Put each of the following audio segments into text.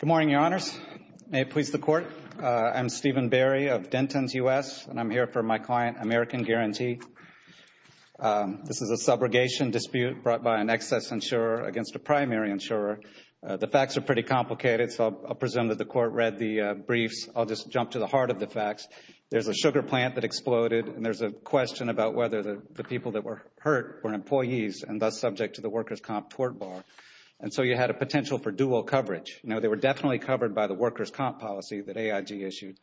Good morning, Your Honors. May it please the Court, I'm Stephen Barry of Denton's U.S. and I'm here for my client, American Guarantee. This is a subrogation dispute brought by an excess insurer against a primary insurer. The facts are pretty complicated so I'll presume that the Court read the briefs. I'll just jump to the heart of the facts. There's a sugar plant that exploded and there's a question about whether the people that were hurt were employees and thus subject to the workers' comp tort bar. And so you had a potential for dual coverage. You know, they were definitely covered by the workers' comp policy that AIG issued.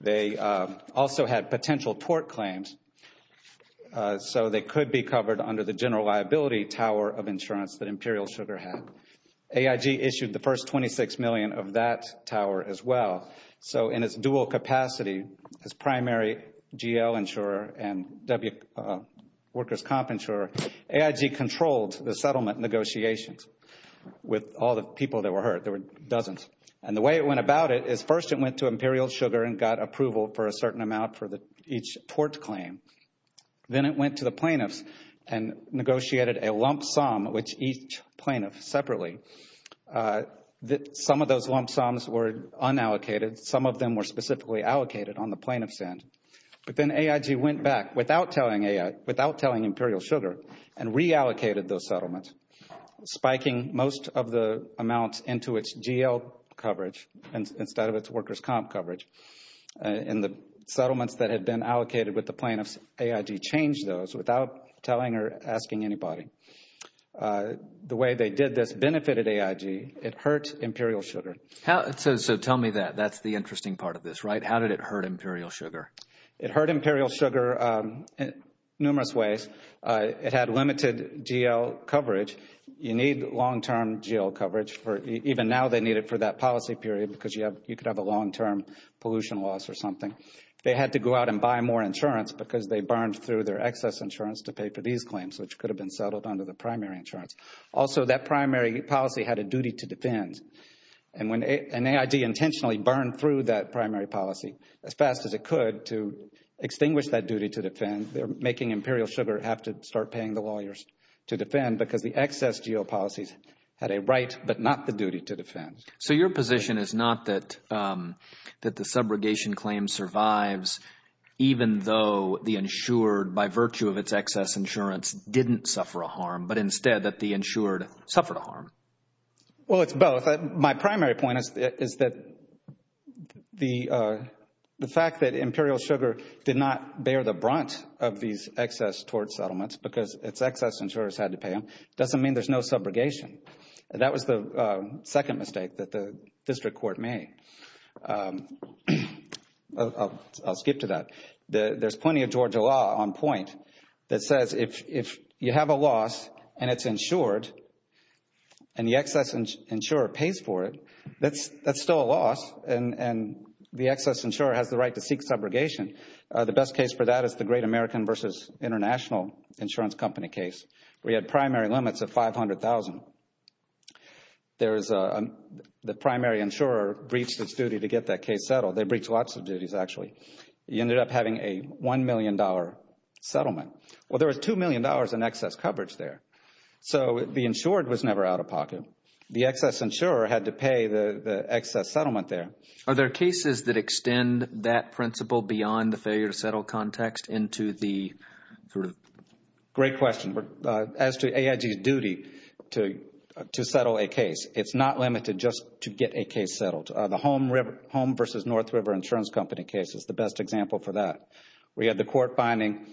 They also had potential tort claims so they could be covered under the general liability tower of insurance that Imperial Sugar had. AIG issued the first $26 million of that tower as well. So in its dual capacity as primary GL insurer and workers' comp insurer, AIG controlled the settlement negotiations with all the people that were hurt. There it went to Imperial Sugar and got approval for a certain amount for each tort claim. Then it went to the plaintiffs and negotiated a lump sum which each plaintiff separately, some of those lump sums were unallocated, some of them were specifically allocated on the plaintiff's end. But then AIG went back without telling Imperial Sugar and reallocated those settlements, spiking most of the amounts into its GL coverage instead of its workers' comp coverage. And the settlements that had been allocated with the plaintiffs, AIG changed those without telling or asking anybody. The way they did this benefited AIG. It hurt Imperial Sugar. So tell me that. That's the interesting part of this, right? How did it hurt Imperial Sugar? It hurt Imperial Sugar in numerous ways. It had limited GL coverage. You need long-term GL coverage. Even now they need it for that policy period because you could have a long-term pollution loss or something. They had to go out and buy more insurance because they burned through their excess insurance to pay for these claims, which could have been settled under the primary insurance. Also, that primary policy had a duty to defend. And when AIG intentionally burned through that primary policy as fast as it could to extinguish that duty to defend, they're making Imperial Sugar have to start paying the lawyers to defend because the excess GL policies had a right but not the duty to defend. So your position is not that the subrogation claim survives even though the insured, by virtue of its excess insurance, didn't suffer a harm, but instead that the insured suffered a harm? Well, it's both. My primary point is that the fact that Imperial Sugar did not bear the brunt of these excess tort settlements because its excess insurers had to pay them doesn't mean there's no subrogation. That was the second mistake that the district court made. I'll skip to that. There's plenty of Georgia law on point that says if you have a loss and it's insured and the excess insurer pays for it, that's still a loss and the excess insurer has the right to seek subrogation. The best case for that is the Great American v. International Insurance Company case where you had primary limits of $500,000. The primary insurer breached its duty to get that case settled. They breached lots of duties, actually. You ended up having a $1 million settlement. Well, there was $2 million in excess coverage there. So the insured was never out of pocket. The excess insurer had to pay the excess settlement there. Are there cases that extend that principle beyond the failure to settle context into the group? Great question. As to AIG's duty to settle a case, it's not limited just to get a case settled. The Great American v. International Insurance Company case is the best example for that. We had the court finding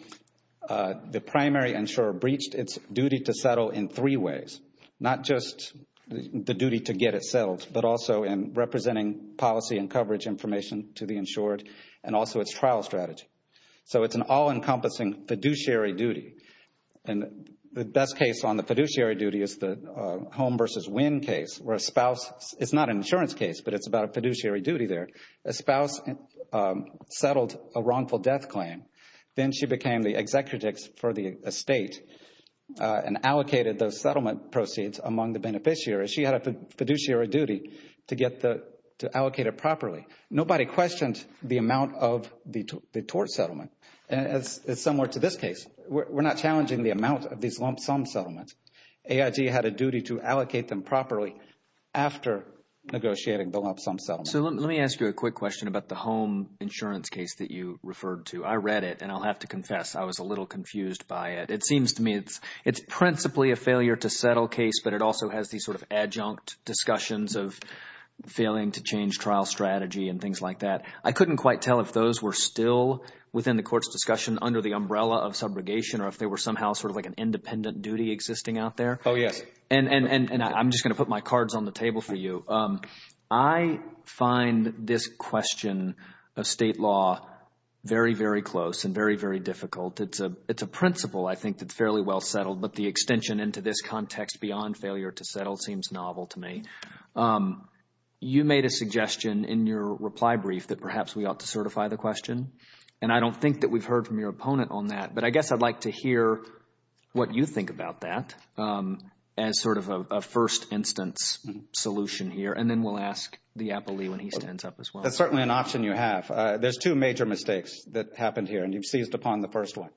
the primary insurer breached its duty to settle in three ways, not just the duty to get it settled, but also in representing policy and coverage information to the insured and also its trial strategy. So it's an all-encompassing fiduciary duty. The best case on the fiduciary duty is the Home v. Winn case where a spouse—it's not an insurance case, but it's about a fiduciary duty there—a spouse settled a wrongful death claim. Then she became the executive for the estate and allocated those settlement proceeds among the beneficiaries. She had a fiduciary duty to allocate it properly. Nobody questioned the amount of the tort settlement, and it's similar to this case. We're not challenging the amount of these lump sum settlements. AIG had a duty to allocate them properly after negotiating the lump sum settlement. So let me ask you a quick question about the Home insurance case that you referred to. I read it, and I'll have to confess I was a little confused by it. It seems to me it's principally a failure-to-settle case, but it also has these sort of adjunct discussions of failing to change trial strategy and things like that. I couldn't quite tell if those were still within the court's discussion under the umbrella of subrogation or if they were somehow sort of like an independent duty existing out there. Oh, yes. And I'm just going to put my cards on the table for you. I find this question of state law very, very close and very, very difficult. It's a principle, I think, that's fairly well settled, but the extension into this context beyond failure to settle seems novel to me. You made a suggestion in your reply brief that perhaps we ought to certify the question, and I don't think that we've heard from your opponent on that, but I guess I'd like to hear what you think about that as sort of a first instance solution here, and then we'll ask the appellee when he stands up as well. That's certainly an option you have. There's two major mistakes that happened here, and you've seized upon the first one.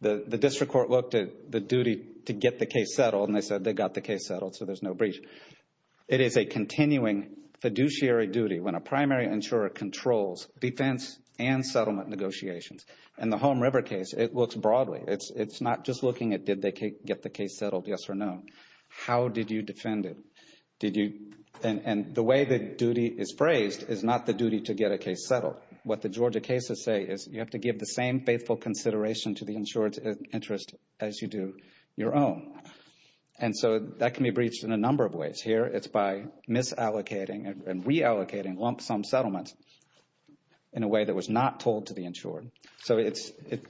The district court looked at the duty to get the case settled, and they said they got the case settled, so there's no breach. It is a continuing fiduciary duty when a primary insurer controls defense and settlement negotiations. In the Home River case, it looks broadly. It's not just looking at did they get the case settled, yes or no. How did you defend it? And the way the duty is phrased is not the duty to get a case settled. What the Georgia cases say is you have to give the same faithful consideration to the insured's interest as you do your own, and so that can be breached in a number of ways. Here it's by misallocating and reallocating lump sum settlements in a way that was not held to the insured. So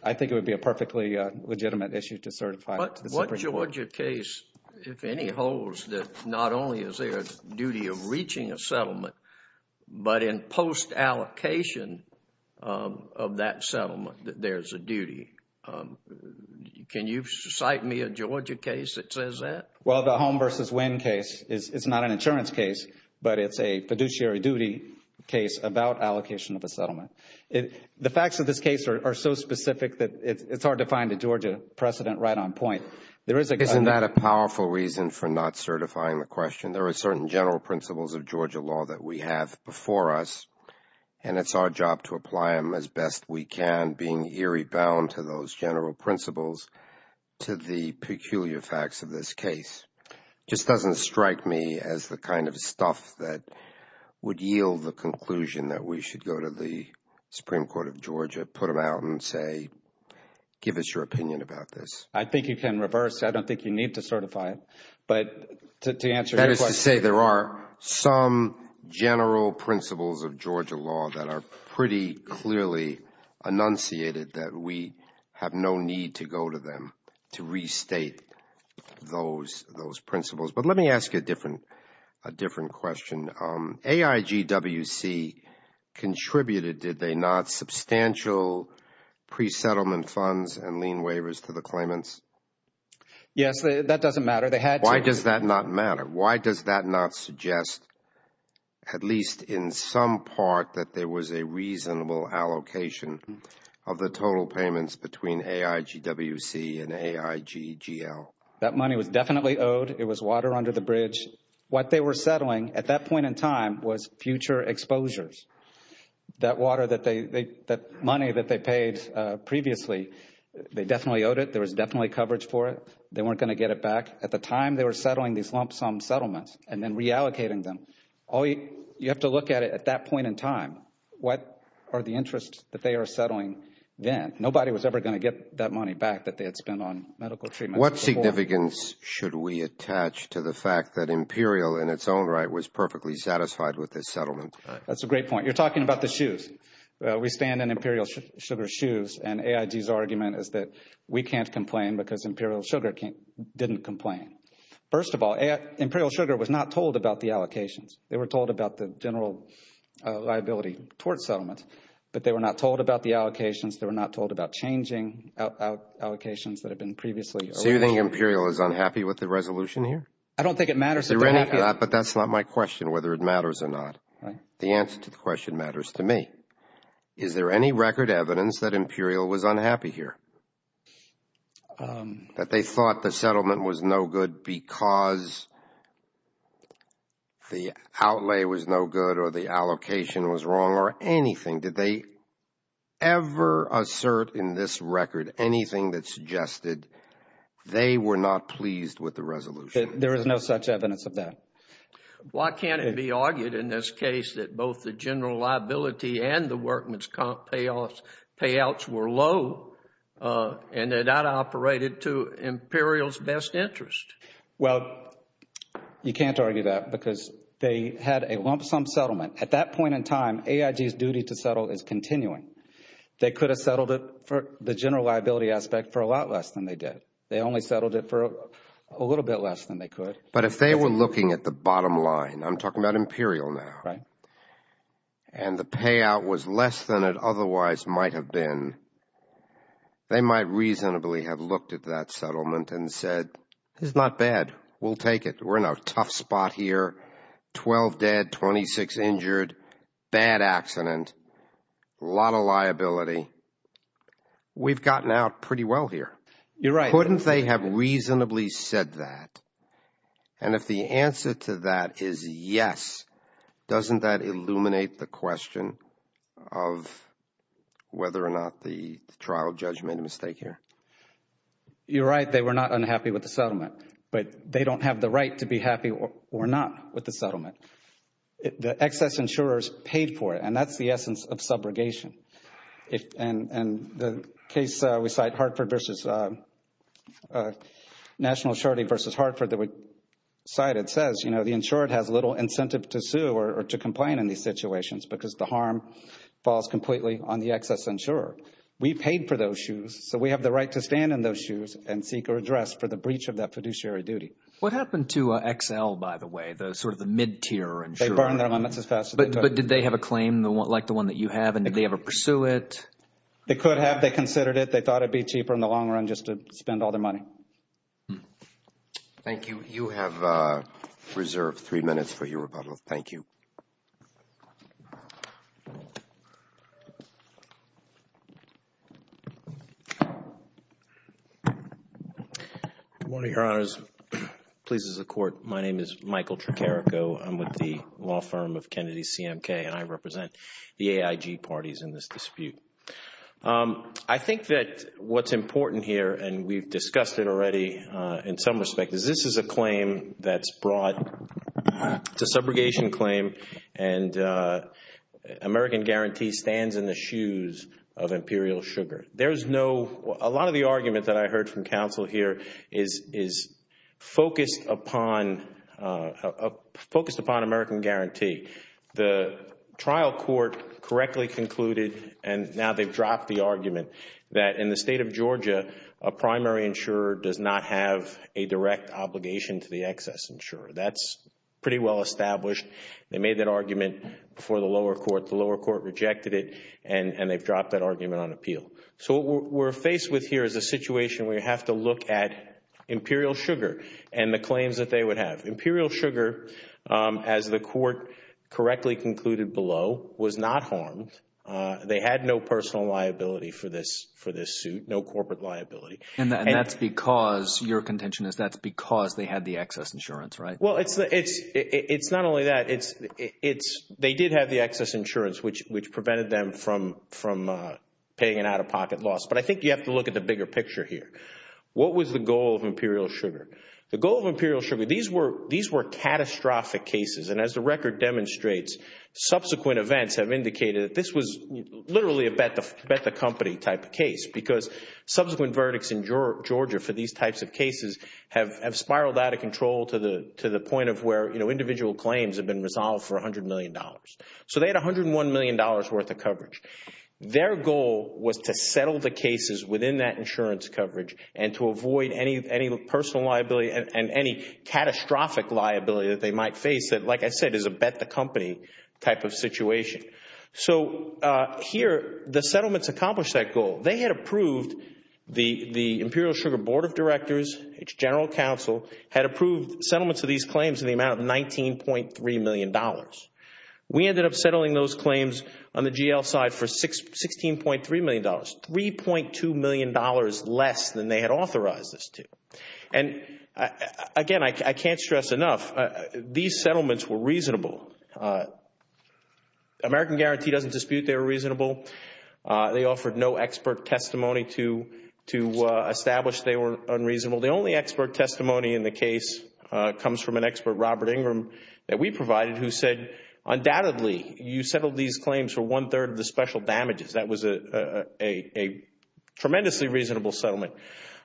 I think it would be a perfectly legitimate issue to certify it to the Supreme Court. What Georgia case, if any, holds that not only is there a duty of reaching a settlement, but in post-allocation of that settlement that there's a duty? Can you cite me a Georgia case that says that? Well, the Home v. Wynn case is not an insurance case, but it's a fiduciary duty case about allocation of a settlement. The facts of this case are so specific that it's hard to find a Georgia precedent right on point. Isn't that a powerful reason for not certifying the question? There are certain general principles of Georgia law that we have before us, and it's our job to apply them as best we can, being eerie bound to those general principles to the peculiar facts of this case. It just doesn't strike me as the kind of stuff that would yield the conclusion that we should go to the Supreme Court of Georgia, put them out, and say, give us your opinion about this. I think you can reverse. I don't think you need to certify it, but to answer your question. That is to say there are some general principles of Georgia law that are pretty clearly enunciated that we have no need to go to them to restate those principles. But let me ask you a different question. AIGWC contributed, did they not, substantial pre-settlement funds and lien waivers to the claimants? Yes, that doesn't matter. They had to. Why does that not matter? Why does that not suggest, at least in some part, that there was a reasonable allocation of the total payments between AIGWC and AIGGL? That money was definitely owed. It was water under the bridge. What they were settling at that point in time was future exposures. That water that they, that money that they paid previously, they definitely owed it. There was definitely coverage for it. They weren't going to get it back. At the time they were settling these lump sum settlements and then reallocating them, you have to look at it at that point in time. What are the interests that they are settling then? Nobody was ever going to get that money back that they had spent on medical treatment. What significance should we attach to the fact that Imperial in its own right was perfectly satisfied with this settlement? That's a great point. You're talking about the shoes. We stand in Imperial Sugar's shoes and AIG's argument is that we can't complain because Imperial Sugar didn't complain. First of all, Imperial Sugar was not told about the allocations. They were told about the general liability towards settlements, but they were not told about the allocations. They were not told about changing allocations that had been previously. So you think Imperial is unhappy with the resolution here? I don't think it matters if they're happy. But that's not my question whether it matters or not. The answer to the question matters to me. Is there any record evidence that Imperial was unhappy here? That they thought the settlement was no good because the outlay was no good or the allocation was wrong or anything? Did they ever assert in this record anything that suggested they were not pleased with the resolution? There is no such evidence of that. Why can't it be argued in this case that both the general liability and the workman's payouts were low and they're not operated to Imperial's best interest? Well, you can't argue that because they had a lump sum settlement. At that point in time, AIG's duty to settle is continuing. They could have settled it for the general liability aspect for a lot less than they did. They only settled it for a little bit less than they could. But if they were looking at the bottom line, I'm talking about Imperial now, and the payout was less than it otherwise might have been, they might reasonably have looked at that settlement and said, it's not bad. We'll take it. We're in a tough spot here. Twelve dead, 26 injured, bad accident, a lot of liability. We've gotten out pretty well here. You're right. Couldn't they have reasonably said that? And if the answer to that is yes, doesn't that illuminate the question of whether or not the trial judge made a mistake here? You're right. They were not unhappy with the settlement, but they don't have the right to be happy or not with the settlement. The excess insurers paid for it, and that's the essence of subrogation. And the case we cite, Hartford v. National Assurity v. Hartford that we cited says, you know, the insured has little incentive to sue or to complain in these situations because the harm falls completely on the excess insurer. We paid for those shoes, so we have the right to stand in those shoes and seek our address for the breach of that fiduciary duty. What happened to XL, by the way, the sort of the mid-tier insurer? They burned their limits as fast as they could. But did they have a claim like the one that you have, and did they ever pursue it? They could have. They considered it. They thought it'd be cheaper in the long run just to spend all their money. Thank you. You have reserved three minutes for your rebuttal. Thank you. Good morning, Your Honors. Please, as a court, my name is Michael Tricarico. I'm with the law firm of Kennedy CMK, and I represent the AIG parties in this dispute. I think that what's important here, and we've discussed it already in some respect, is this is a claim that's brought, it's a subrogation claim, and American Guarantee stands in the shoes of Imperial Sugar. There's no, a lot of the argument that I heard from counsel here is focused upon American Guarantee. The trial court correctly concluded, and now they've said, in the state of Georgia, a primary insurer does not have a direct obligation to the excess insurer. That's pretty well established. They made that argument before the lower court. The lower court rejected it, and they've dropped that argument on appeal. So what we're faced with here is a situation where you have to look at Imperial Sugar and the claims that they would have. Imperial Sugar, as the court correctly concluded below, was not harmed. They had no personal liability for this suit, no corporate liability. And that's because, your contention is that's because they had the excess insurance, right? Well, it's not only that. They did have the excess insurance, which prevented them from paying an out-of-pocket loss. But I think you have to look at the bigger picture here. What was the goal of Imperial Sugar? The goal of Imperial Sugar, these were catastrophic cases. And as the record demonstrates, subsequent events have indicated that this was literally a bet-the-company type of case because subsequent verdicts in Georgia for these types of cases have spiraled out of control to the point of where individual claims have been resolved for $100 million. So they had $101 million worth of coverage. Their goal was to settle the cases within that insurance coverage and to avoid any personal liability and any catastrophic liability that they might face that, like I said, is a bet-the-company type of situation. So here, the settlements accomplished that goal. They had approved, the Imperial Sugar Board of Directors, its general counsel, had approved settlements of these claims in the amount of $19.3 million. We ended up settling those claims on the GL side for $16.3 million, $3.2 million less than they had authorized this to. And again, I can't stress enough, these settlements were reasonable. American Guarantee doesn't dispute they were reasonable. They offered no expert testimony to establish they were unreasonable. The only expert testimony in the case comes from an expert, Robert Ingram, that we provided who said, undoubtedly, you settled these claims for one-third of the special damages. That was a tremendously reasonable settlement.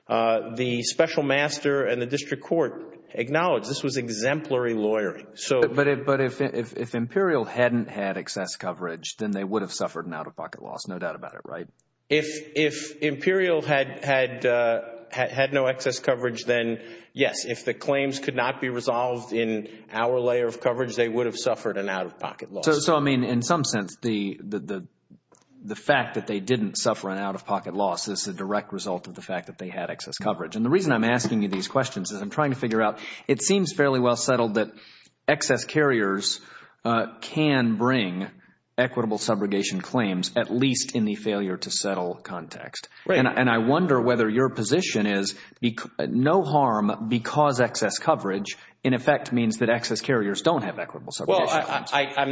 The special master and the district court acknowledged this was exemplary lawyering. But if Imperial hadn't had excess coverage, then they would have suffered an out-of-pocket loss, no doubt about it, right? If Imperial had no excess coverage, then yes. If the claims could not be resolved in our layer of coverage, they would have suffered an out-of-pocket loss. So I mean, in some sense, the fact that they didn't suffer an out-of-pocket loss is a direct result of the fact that they had excess coverage. And the reason I'm asking you these questions is I'm trying to figure out, it seems fairly well settled that excess carriers can bring equitable subrogation claims, at least in the failure-to-settle context. And I wonder whether your position is no harm because excess coverage, in effect, means Well, I'm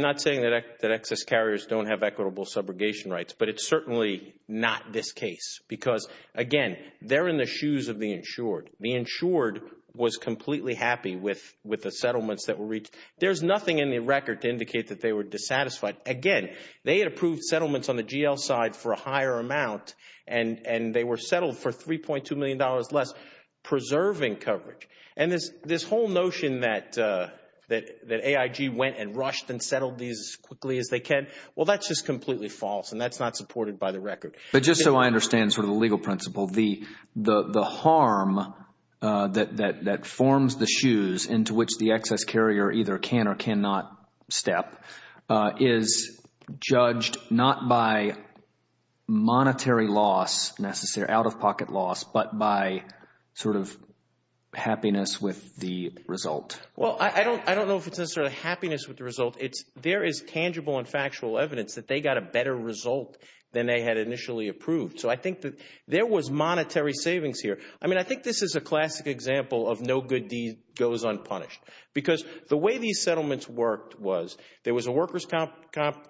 not saying that excess carriers don't have equitable subrogation rights, but it's certainly not this case because, again, they're in the shoes of the insured. The insured was completely happy with the settlements that were reached. There's nothing in the record to indicate that they were dissatisfied. Again, they had approved settlements on the GL side for a higher amount, and they were settled for $3.2 million less, preserving coverage. And this whole notion that AIG went and rushed and settled these as quickly as they can, well, that's just completely false, and that's not supported by the record. But just so I understand sort of the legal principle, the harm that forms the shoes into which the excess carrier either can or cannot step is judged not by monetary loss, out-of-pocket loss, but by sort of happiness with the result. Well, I don't know if it's necessarily happiness with the result. There is tangible and factual evidence that they got a better result than they had initially approved. So I think that there was monetary savings here. I mean, I think this is a classic example of no good deed goes unpunished. Because the way these settlements worked was there was a workers' comp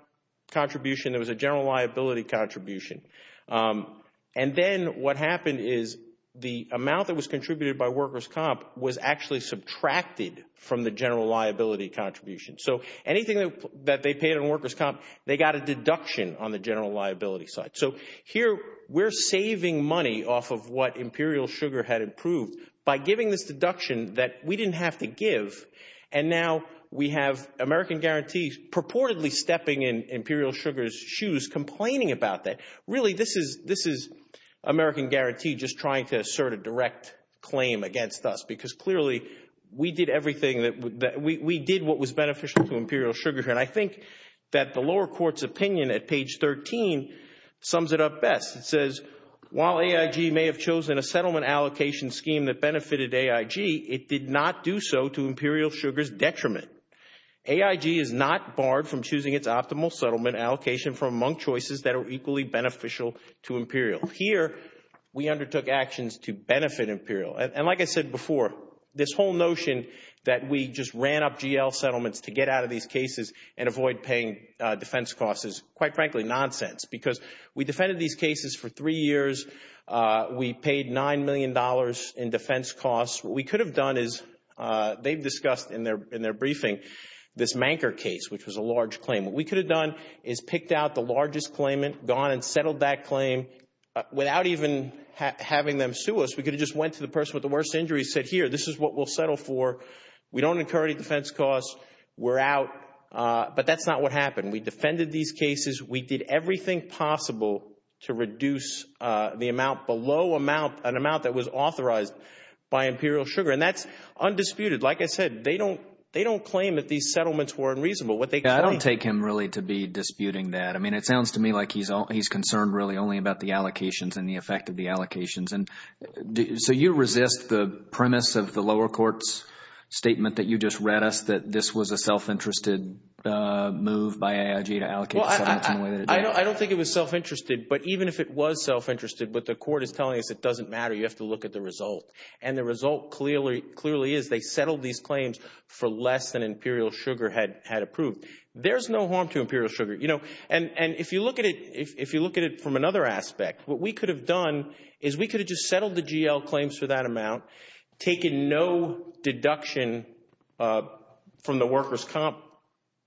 contribution, there was a general liability contribution. And then what happened is the amount that was contributed by workers' comp was actually subtracted from the general liability contribution. So anything that they paid on workers' comp, they got a deduction on the general liability side. So here we're saving money off of what Imperial Sugar had approved by giving this deduction that we didn't have to give. And now we have American Guarantee purportedly stepping in Imperial Sugar's shoes complaining about that. Really, this is American Guarantee just trying to assert a direct claim against us. Because clearly, we did everything that – we did what was beneficial to Imperial Sugar. And I think that the lower court's opinion at page 13 sums it up best. It says, while AIG may have chosen a settlement allocation scheme that benefited AIG, it did not do so to Imperial Sugar's detriment. AIG is not barred from choosing its optimal settlement allocation from among choices that are equally beneficial to Imperial. Here, we undertook actions to benefit Imperial. And like I said before, this whole notion that we just ran up GL settlements to get out of these cases and avoid paying defense costs is, quite frankly, nonsense. Because we defended these cases for three years. We paid $9 million in defense costs. What we could have done is – they've discussed in their briefing this Manker case, which was a large claim. What we could have done is picked out the largest claimant, gone and settled that claim without even having them sue us. We could have just went to the person with the worst injury and said, here, this is what we'll settle for. We don't incur any defense costs. We're out. But that's not what happened. We defended these cases. We did everything possible to reduce the amount that was authorized by Imperial Sugar. And that's undisputed. Like I said, they don't claim that these settlements were unreasonable. I don't take him really to be disputing that. I mean, it sounds to me like he's concerned really only about the allocations and the effect of the allocations. So you resist the premise of the lower court's statement that you just read us, that this was a self-interested move by AIG to allocate the settlements in the way that it did? I don't think it was self-interested. But even if it was self-interested, what the court is telling us, it doesn't matter. You have to look at the result. And the result clearly is they settled these claims for less than Imperial Sugar had approved. There's no harm to Imperial Sugar. And if you look at it from another aspect, what we could have done is we could have just settled the GL claims for that amount, taken no deduction from the workers' comp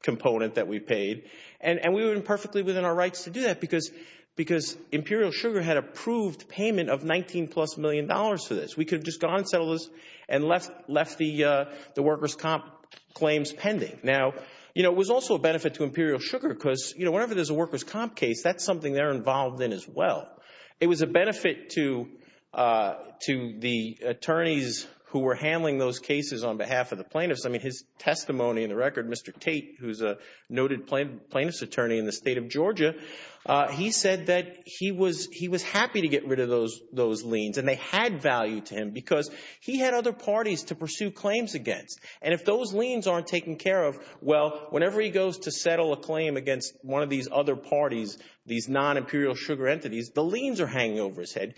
component that we paid. And we were perfectly within our rights to do that because Imperial Sugar had approved payment of 19-plus million dollars for this. We could have just gone and settled this and left the workers' comp claims pending. Now, you know, it was also a benefit to Imperial Sugar because, you know, whenever there's a workers' comp case, that's something they're involved in as well. It was a benefit to the attorneys who were handling those cases on behalf of the plaintiffs. I mean, his testimony in the record, Mr. Tate, who's a noted plaintiff's attorney in the state of Georgia, he said that he was happy to get rid of those liens. And they had value to him because he had other parties to pursue claims against. And if those liens aren't taken care of, well, whenever he goes to settle a claim against one of these other parties, these non-Imperial Sugar entities, the liens are hanging over his head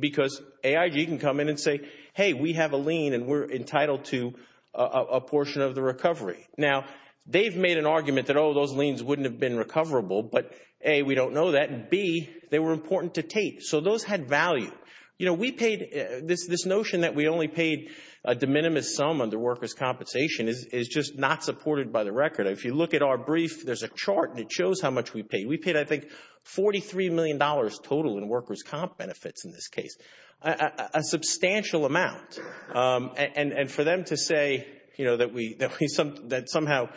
because AIG can come in and say, hey, we have a lien and we're entitled to a portion of the recovery. Now, they've made an argument that, oh, those liens wouldn't have been recoverable, but A, we don't know that, and B, they were important to Tate. So those had value. You know, we paid, this notion that we only paid a de minimis sum under workers' compensation is just not supported by the record. If you look at our brief, there's a chart and it shows how much we paid. We paid, I think, $43 million total in workers' comp benefits in this case, a substantial amount. And for them to say, you know, that somehow,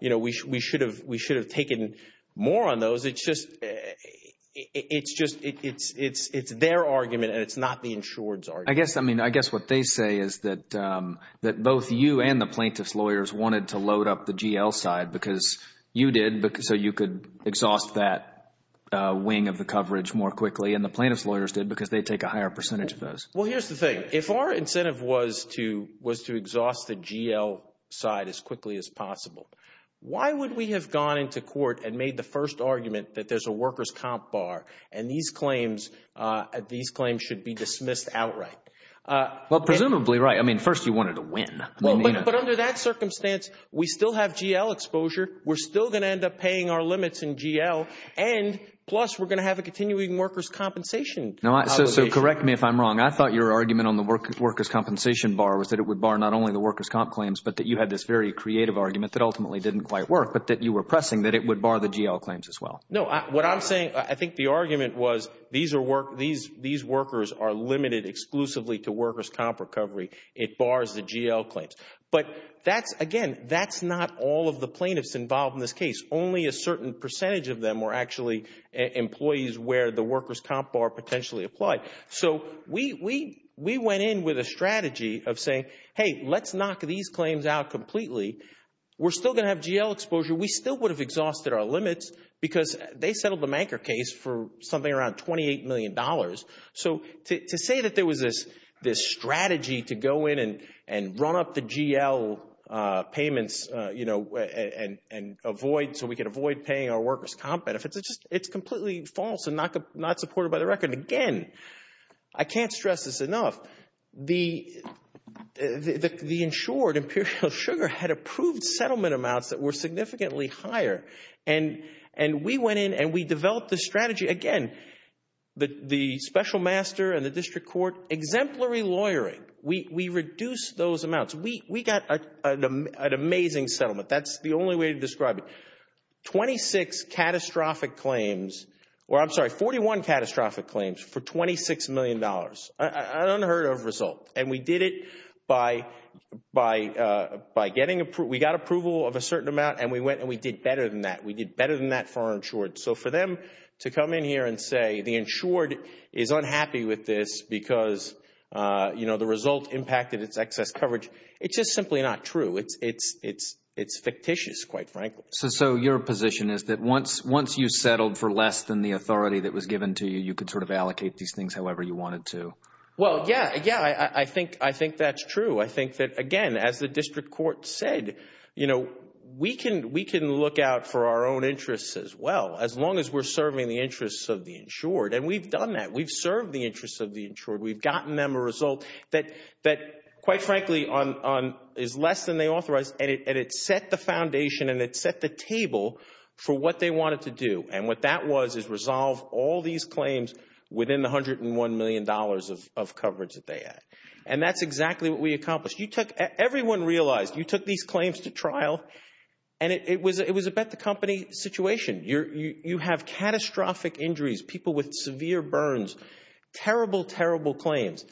you know, we should have taken more on those, it's just, it's their argument and it's not the insured's argument. I guess, I mean, I guess what they say is that both you and the plaintiff's lawyers wanted to load up the GL side because you did, so you could exhaust that wing of the coverage more quickly, and the plaintiff's lawyers did because they take a higher percentage of those. Well, here's the thing. If our incentive was to exhaust the GL side as quickly as possible, why would we have gone into court and made the first argument that there's a workers' comp bar and these claims, these claims should be dismissed outright? Well, presumably, right. I mean, first you wanted to win. Well, but under that circumstance, we still have GL exposure. We're still going to end up paying our limits in GL. And plus, we're going to have a continuing workers' compensation obligation. So correct me if I'm wrong. I thought your argument on the workers' compensation bar was that it would bar not only the workers' comp claims, but that you had this very creative argument that ultimately didn't quite work, but that you were pressing that it would bar the GL claims as well. No. What I'm saying, I think the argument was these workers are limited exclusively to workers' comp recovery. It bars the GL claims. But again, that's not all of the plaintiffs involved in this case. Only a certain percentage of them were actually employees where the workers' comp bar potentially applied. So we went in with a strategy of saying, hey, let's knock these claims out completely. We're still going to have GL exposure. We still would have exhausted our limits because they settled the Manker case for something around $28 million. So to say that there was this strategy to go in and run up the GL payments and avoid so we could avoid paying our workers' comp benefits, it's completely false and not supported by the record. And again, I can't stress this enough, the insured, Imperial Sugar, had approved settlement amounts that were significantly higher. And we went in and we developed this strategy. Again, the special master and the district court exemplary lawyering. We reduced those amounts. We got an amazing settlement. That's the only way to describe it. Twenty-six catastrophic claims for $26 million. An unheard of result. And we did it by getting approval. We got approval of a certain amount and we went and we did better than that. We did better than that for our insured. So for them to come in here and say the insured is unhappy with this because the result impacted its excess coverage, it's just simply not true. It's fictitious, quite frankly. So your position is that once you settled for less than the authority that was given to you, you could sort of allocate these things however you wanted to? Well, yeah. Yeah, I think that's true. I think that, again, as the district court said, you know, we can look out for our own interests as well as long as we're serving the interests of the insured. And we've done that. We've served the interests of the insured. We've gotten them a result that, quite frankly, is less than they authorized. And it set the foundation and it set the table for what they wanted to do. And what that was is resolve all these claims within the $101 million of coverage that they had. And that's exactly what we accomplished. Everyone realized you took these claims to trial and it was a bet-the-company situation. You have catastrophic injuries, people with severe burns, terrible, terrible claims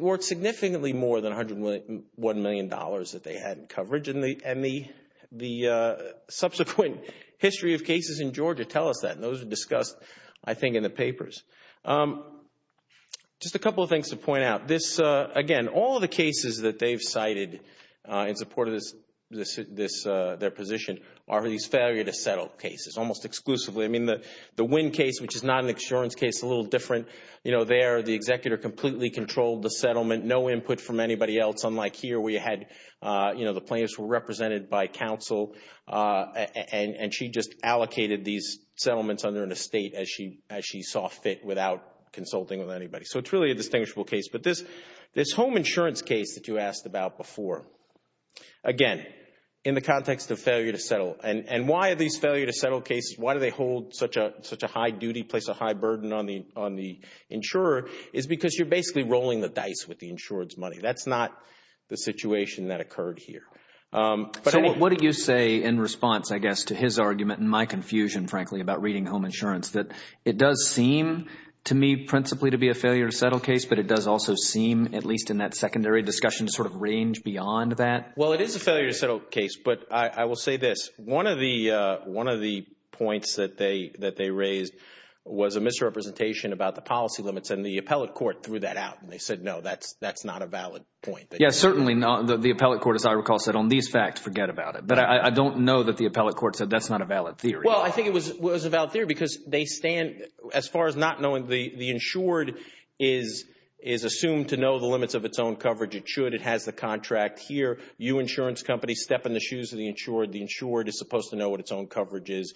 worth significantly more than $101 million that they had in coverage. And the subsequent history of cases in Georgia tell us that. And those were discussed, I think, in the papers. Just a couple of things to point out. This, again, all the cases that they've cited in support of their position are these failure-to-settle cases, almost exclusively. I mean, the Wynn case, which is not an insurance case, a little different. You know, there, the executor completely controlled the settlement, no input from anybody else, unlike here where you had, you know, the plaintiffs were represented by counsel and she just allocated these settlements under an estate as she saw fit without consulting with anybody. So it's really a distinguishable case. But this home insurance case that you asked about before, again, in the context of failure-to-settle. And why are these failure-to-settle cases, why do they hold such a high duty, place a high burden on the insurer, is because you're basically rolling the dice with the insurer's So what do you say in response, I guess, to his argument and my confusion, frankly, about reading home insurance, that it does seem to me principally to be a failure-to-settle case, but it does also seem, at least in that secondary discussion, to sort of range beyond that? Well, it is a failure-to-settle case, but I will say this. One of the points that they raised was a misrepresentation about the policy limits and the appellate court threw that out and they said, no, that's not a valid point. Yes, certainly not. The appellate court, as I recall, said, on these facts, forget about it. But I don't know that the appellate court said that's not a valid theory. Well, I think it was a valid theory because they stand, as far as not knowing, the insured is assumed to know the limits of its own coverage. It should. It has the contract here. You, insurance company, step in the shoes of the insured. The insured is supposed to know what its own coverage is.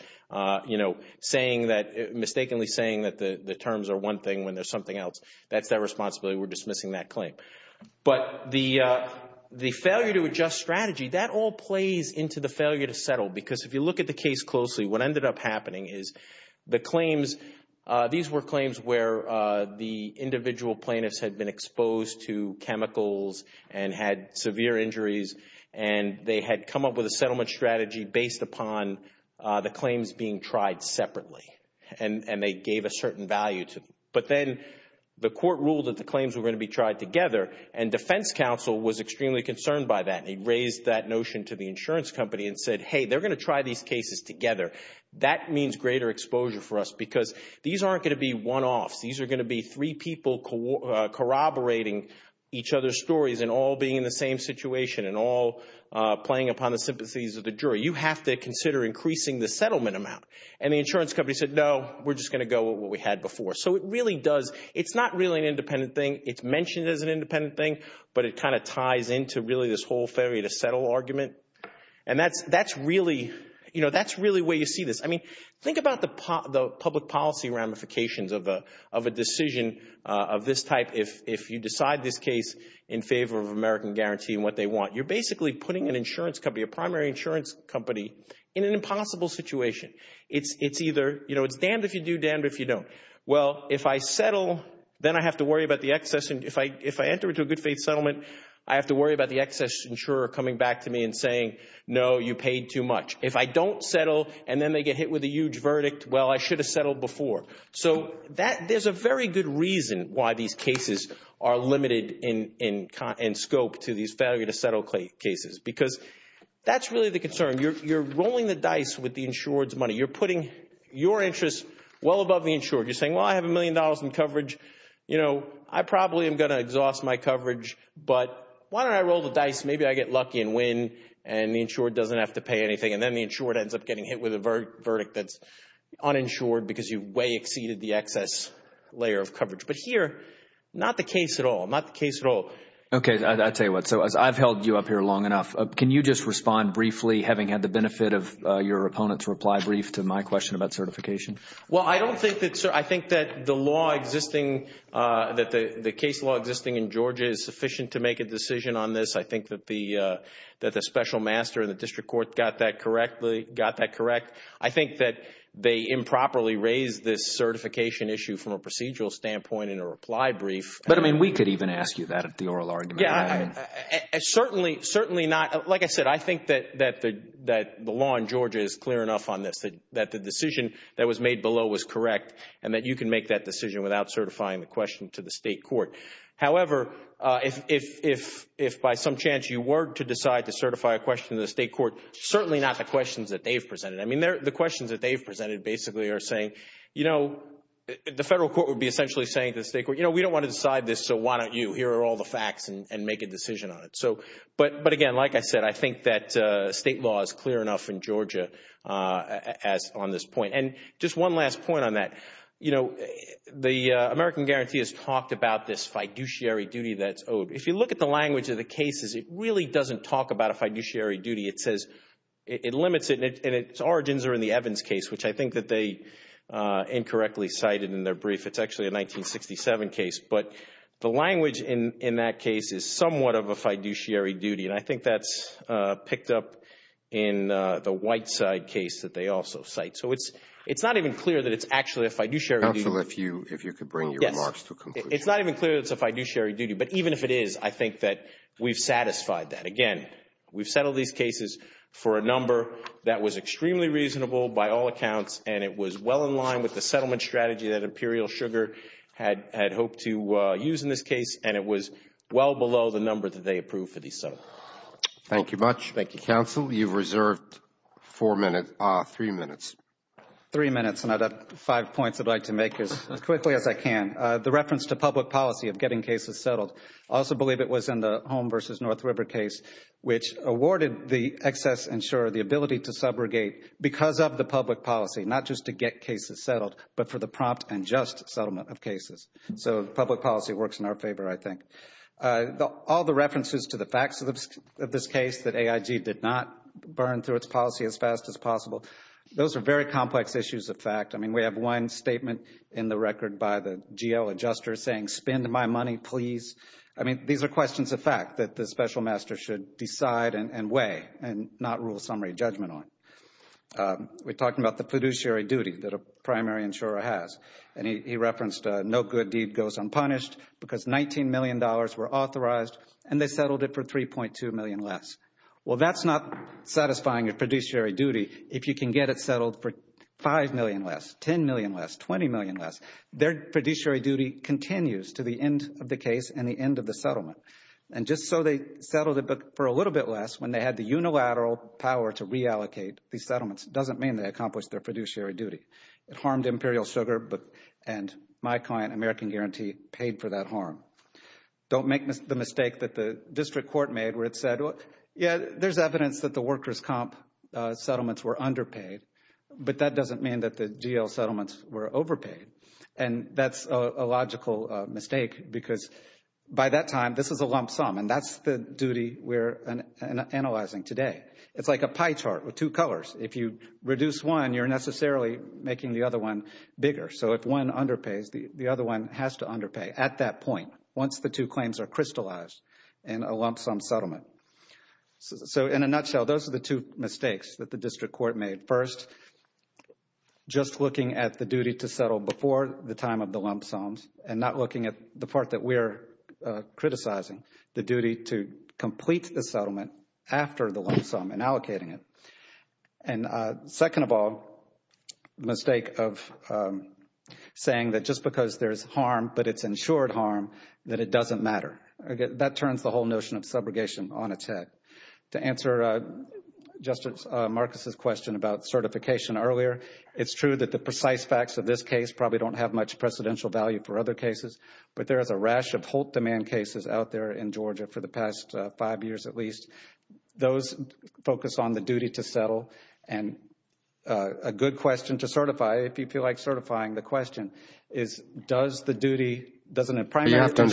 You know, saying that, mistakenly saying that the terms are one thing when there's something else. That's their responsibility. We're dismissing that claim. But the failure-to-adjust strategy, that all plays into the failure-to-settle because if you look at the case closely, what ended up happening is the claims, these were claims where the individual plaintiffs had been exposed to chemicals and had severe injuries and they had come up with a settlement strategy based upon the claims being tried separately. And they gave a certain value to them. But then the court ruled that the claims were going to be tried together and defense counsel was extremely concerned by that. He raised that notion to the insurance company and said, hey, they're going to try these cases together. That means greater exposure for us because these aren't going to be one-offs. These are going to be three people corroborating each other's stories and all being in the same situation and all playing upon the sympathies of the jury. You have to consider increasing the settlement amount. And the insurance company said, no, we're just going to go with what we had before. So it really does, it's not really an independent thing. It's mentioned as an independent thing, but it kind of ties into really this whole failure-to-settle argument. And that's really, you know, that's really where you see this. I mean, think about the public policy ramifications of a decision of this type if you decide this case in favor of American Guarantee and what they want. You're basically putting an insurance company, a primary insurance company, in an impossible situation. It's either, you know, it's damned if you do, damned if you don't. Well, if I settle, then I have to worry about the excess. If I enter into a good-faith settlement, I have to worry about the excess insurer coming back to me and saying, no, you paid too much. If I don't settle and then they get hit with a huge verdict, well, I should have settled before. So there's a very good reason why these cases are limited in scope to these failure-to-settle cases, because that's really the concern. You're rolling the dice with the insured's money. You're putting your interests well above the insured. You're saying, well, I have a million dollars in coverage. You know, I probably am going to exhaust my coverage, but why don't I roll the dice? Maybe I get lucky and win and the insured doesn't have to pay anything. And then the insured ends up getting hit with a verdict that's uninsured because you've way exceeded the excess layer of coverage. But here, not the case at all. Not the case at all. Okay. I'll tell you what. So as I've held you up here long enough, can you just respond briefly having had the benefit of your opponent's reply brief to my question about certification? Well, I don't think that's – I think that the law existing – that the case law existing in Georgia is sufficient to make a decision on this. I think that the special master in the district court got that correctly – got that correct. I think that they improperly used this certification issue from a procedural standpoint in a reply brief. But, I mean, we could even ask you that at the oral argument. Yeah. Certainly, certainly not. Like I said, I think that the law in Georgia is clear enough on this that the decision that was made below was correct and that you can make that decision without certifying the question to the state court. However, if by some chance you were to decide to certify a question to the state court, certainly not the questions that they've been saying. You know, the federal court would be essentially saying to the state court, you know, we don't want to decide this, so why don't you? Here are all the facts and make a decision on it. So – but again, like I said, I think that state law is clear enough in Georgia as – on this point. And just one last point on that. You know, the American Guarantee has talked about this fiduciary duty that's owed. If you look at the language of the cases, it really doesn't talk about a fiduciary duty. It says – it limits it – and its origins are in the Evans case, which I think that they incorrectly cited in their brief. It's actually a 1967 case. But the language in that case is somewhat of a fiduciary duty. And I think that's picked up in the Whiteside case that they also cite. So it's not even clear that it's actually a fiduciary duty. Counsel, if you could bring your remarks to a conclusion. Yes. It's not even clear that it's a fiduciary duty. But even if it is, I think that we've for a number that was extremely reasonable by all accounts and it was well in line with the settlement strategy that Imperial Sugar had hoped to use in this case and it was well below the number that they approved for these settlements. Thank you much. Thank you. Counsel, you've reserved four minutes – three minutes. Three minutes and I've got five points I'd like to make as quickly as I can. The reference to public policy of getting cases settled. I also believe it was in the Home v. North River case, which awarded the excess insurer the ability to subrogate because of the public policy, not just to get cases settled, but for the prompt and just settlement of cases. So public policy works in our favor, I think. All the references to the facts of this case that AIG did not burn through its policy as fast as possible. Those are very complex issues of fact. I mean, we have one statement in the record by the GL adjuster saying, spend my money, please. I mean, these are questions of fact that the special master should decide and weigh and not rule summary judgment on. We're talking about the producer duty that a primary insurer has. And he referenced no good deed goes unpunished because $19 million were authorized and they settled it for $3.2 million less. Well, that's not satisfying your producer duty if you can get it settled for $5 million less, $10 million less, $20 million less. Their producer duty continues to the end of the case and the end of the settlement. And just so they settled it, but for a little bit less when they had the unilateral power to reallocate these settlements, doesn't mean they accomplished their producer duty. It harmed Imperial Sugar and my client, American Guarantee, paid for that harm. Don't make the mistake that the district court made where it said, yeah, there's evidence that the workers' comp settlements were underpaid, but that doesn't mean that the GL settlements were overpaid. And that's a logical mistake because by that time, this is a lump sum and that's the duty we're analyzing today. It's like a pie chart with two colors. If you reduce one, you're necessarily making the other one bigger. So if one underpays, the other one has to underpay at that point, once the two claims are crystallized in a lump sum settlement. So in a nutshell, those are the two mistakes that the district court made. First, just looking at the duty to settle before the time of the lump sums and not looking at the part that we're criticizing, the duty to complete the settlement after the lump sum and allocating it. And second of all, the mistake of saying that just because there's harm but it's ensured harm, that it doesn't matter. That turns the Justice Marcus' question about certification earlier. It's true that the precise facts of this case probably don't have much precedential value for other cases, but there is a rash of Holt demand cases out there in Georgia for the past five years at least. Those focus on the duty to settle. And a good question to certify, if you feel like certifying, the question is, does the duty, doesn't it primarily concern...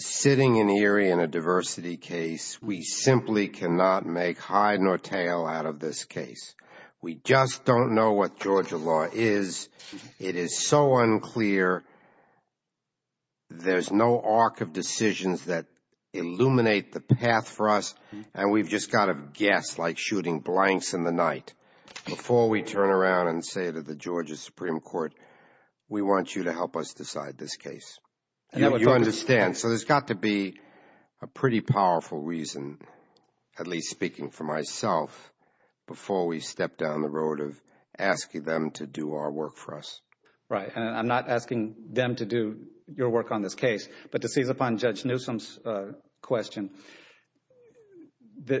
Sitting in the area in a diversity case, we simply cannot make hide nor tell out of this case. We just don't know what Georgia law is. It is so unclear. There's no arc of decisions that illuminate the path for us, and we've just got to guess, like shooting blanks in the night. Before we turn around and say to the Georgia Supreme Court, we want you to help us decide this case. You understand. So there's got to be a pretty powerful reason, at least speaking for myself, before we step down the road of asking them to do our work for us. Right. And I'm not asking them to do your work on this case. But to seize upon Judge Newsom's question, to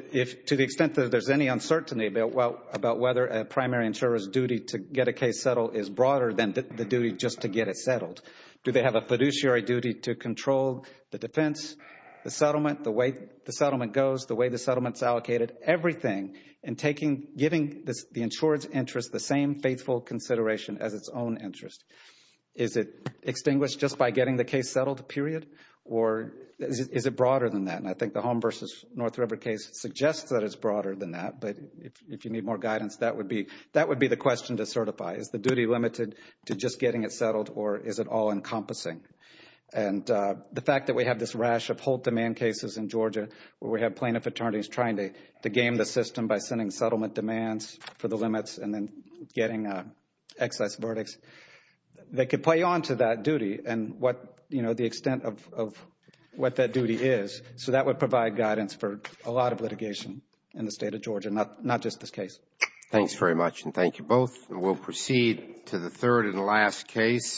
the extent that there's any uncertainty about whether a primary insurer's duty to get a case settled is broader than the duty just to get it settled, do they have a fiduciary duty to control the defense, the settlement, the way the settlement goes, the way the settlement's allocated, everything, and giving the insurer's interest the same faithful consideration as its own interest? Is it extinguished just by getting the case settled, period? Or is it broader than that? And I think the Home v. North River case suggests that it's broader than that. But if you need more guidance, that would be the question to certify. Is the duty limited to just getting it settled, or is it all-encompassing? And the fact that we have this rash of hold-demand cases in Georgia where we have plaintiff attorneys trying to game the system by sending settlement demands for the limits and then getting excess verdicts, they could play on to that duty and what, you know, the extent of what that duty is. So that would provide guidance for a lot of litigation in the State of Georgia, not just this case. Thanks very much, and thank you both. We'll proceed to the third and last case.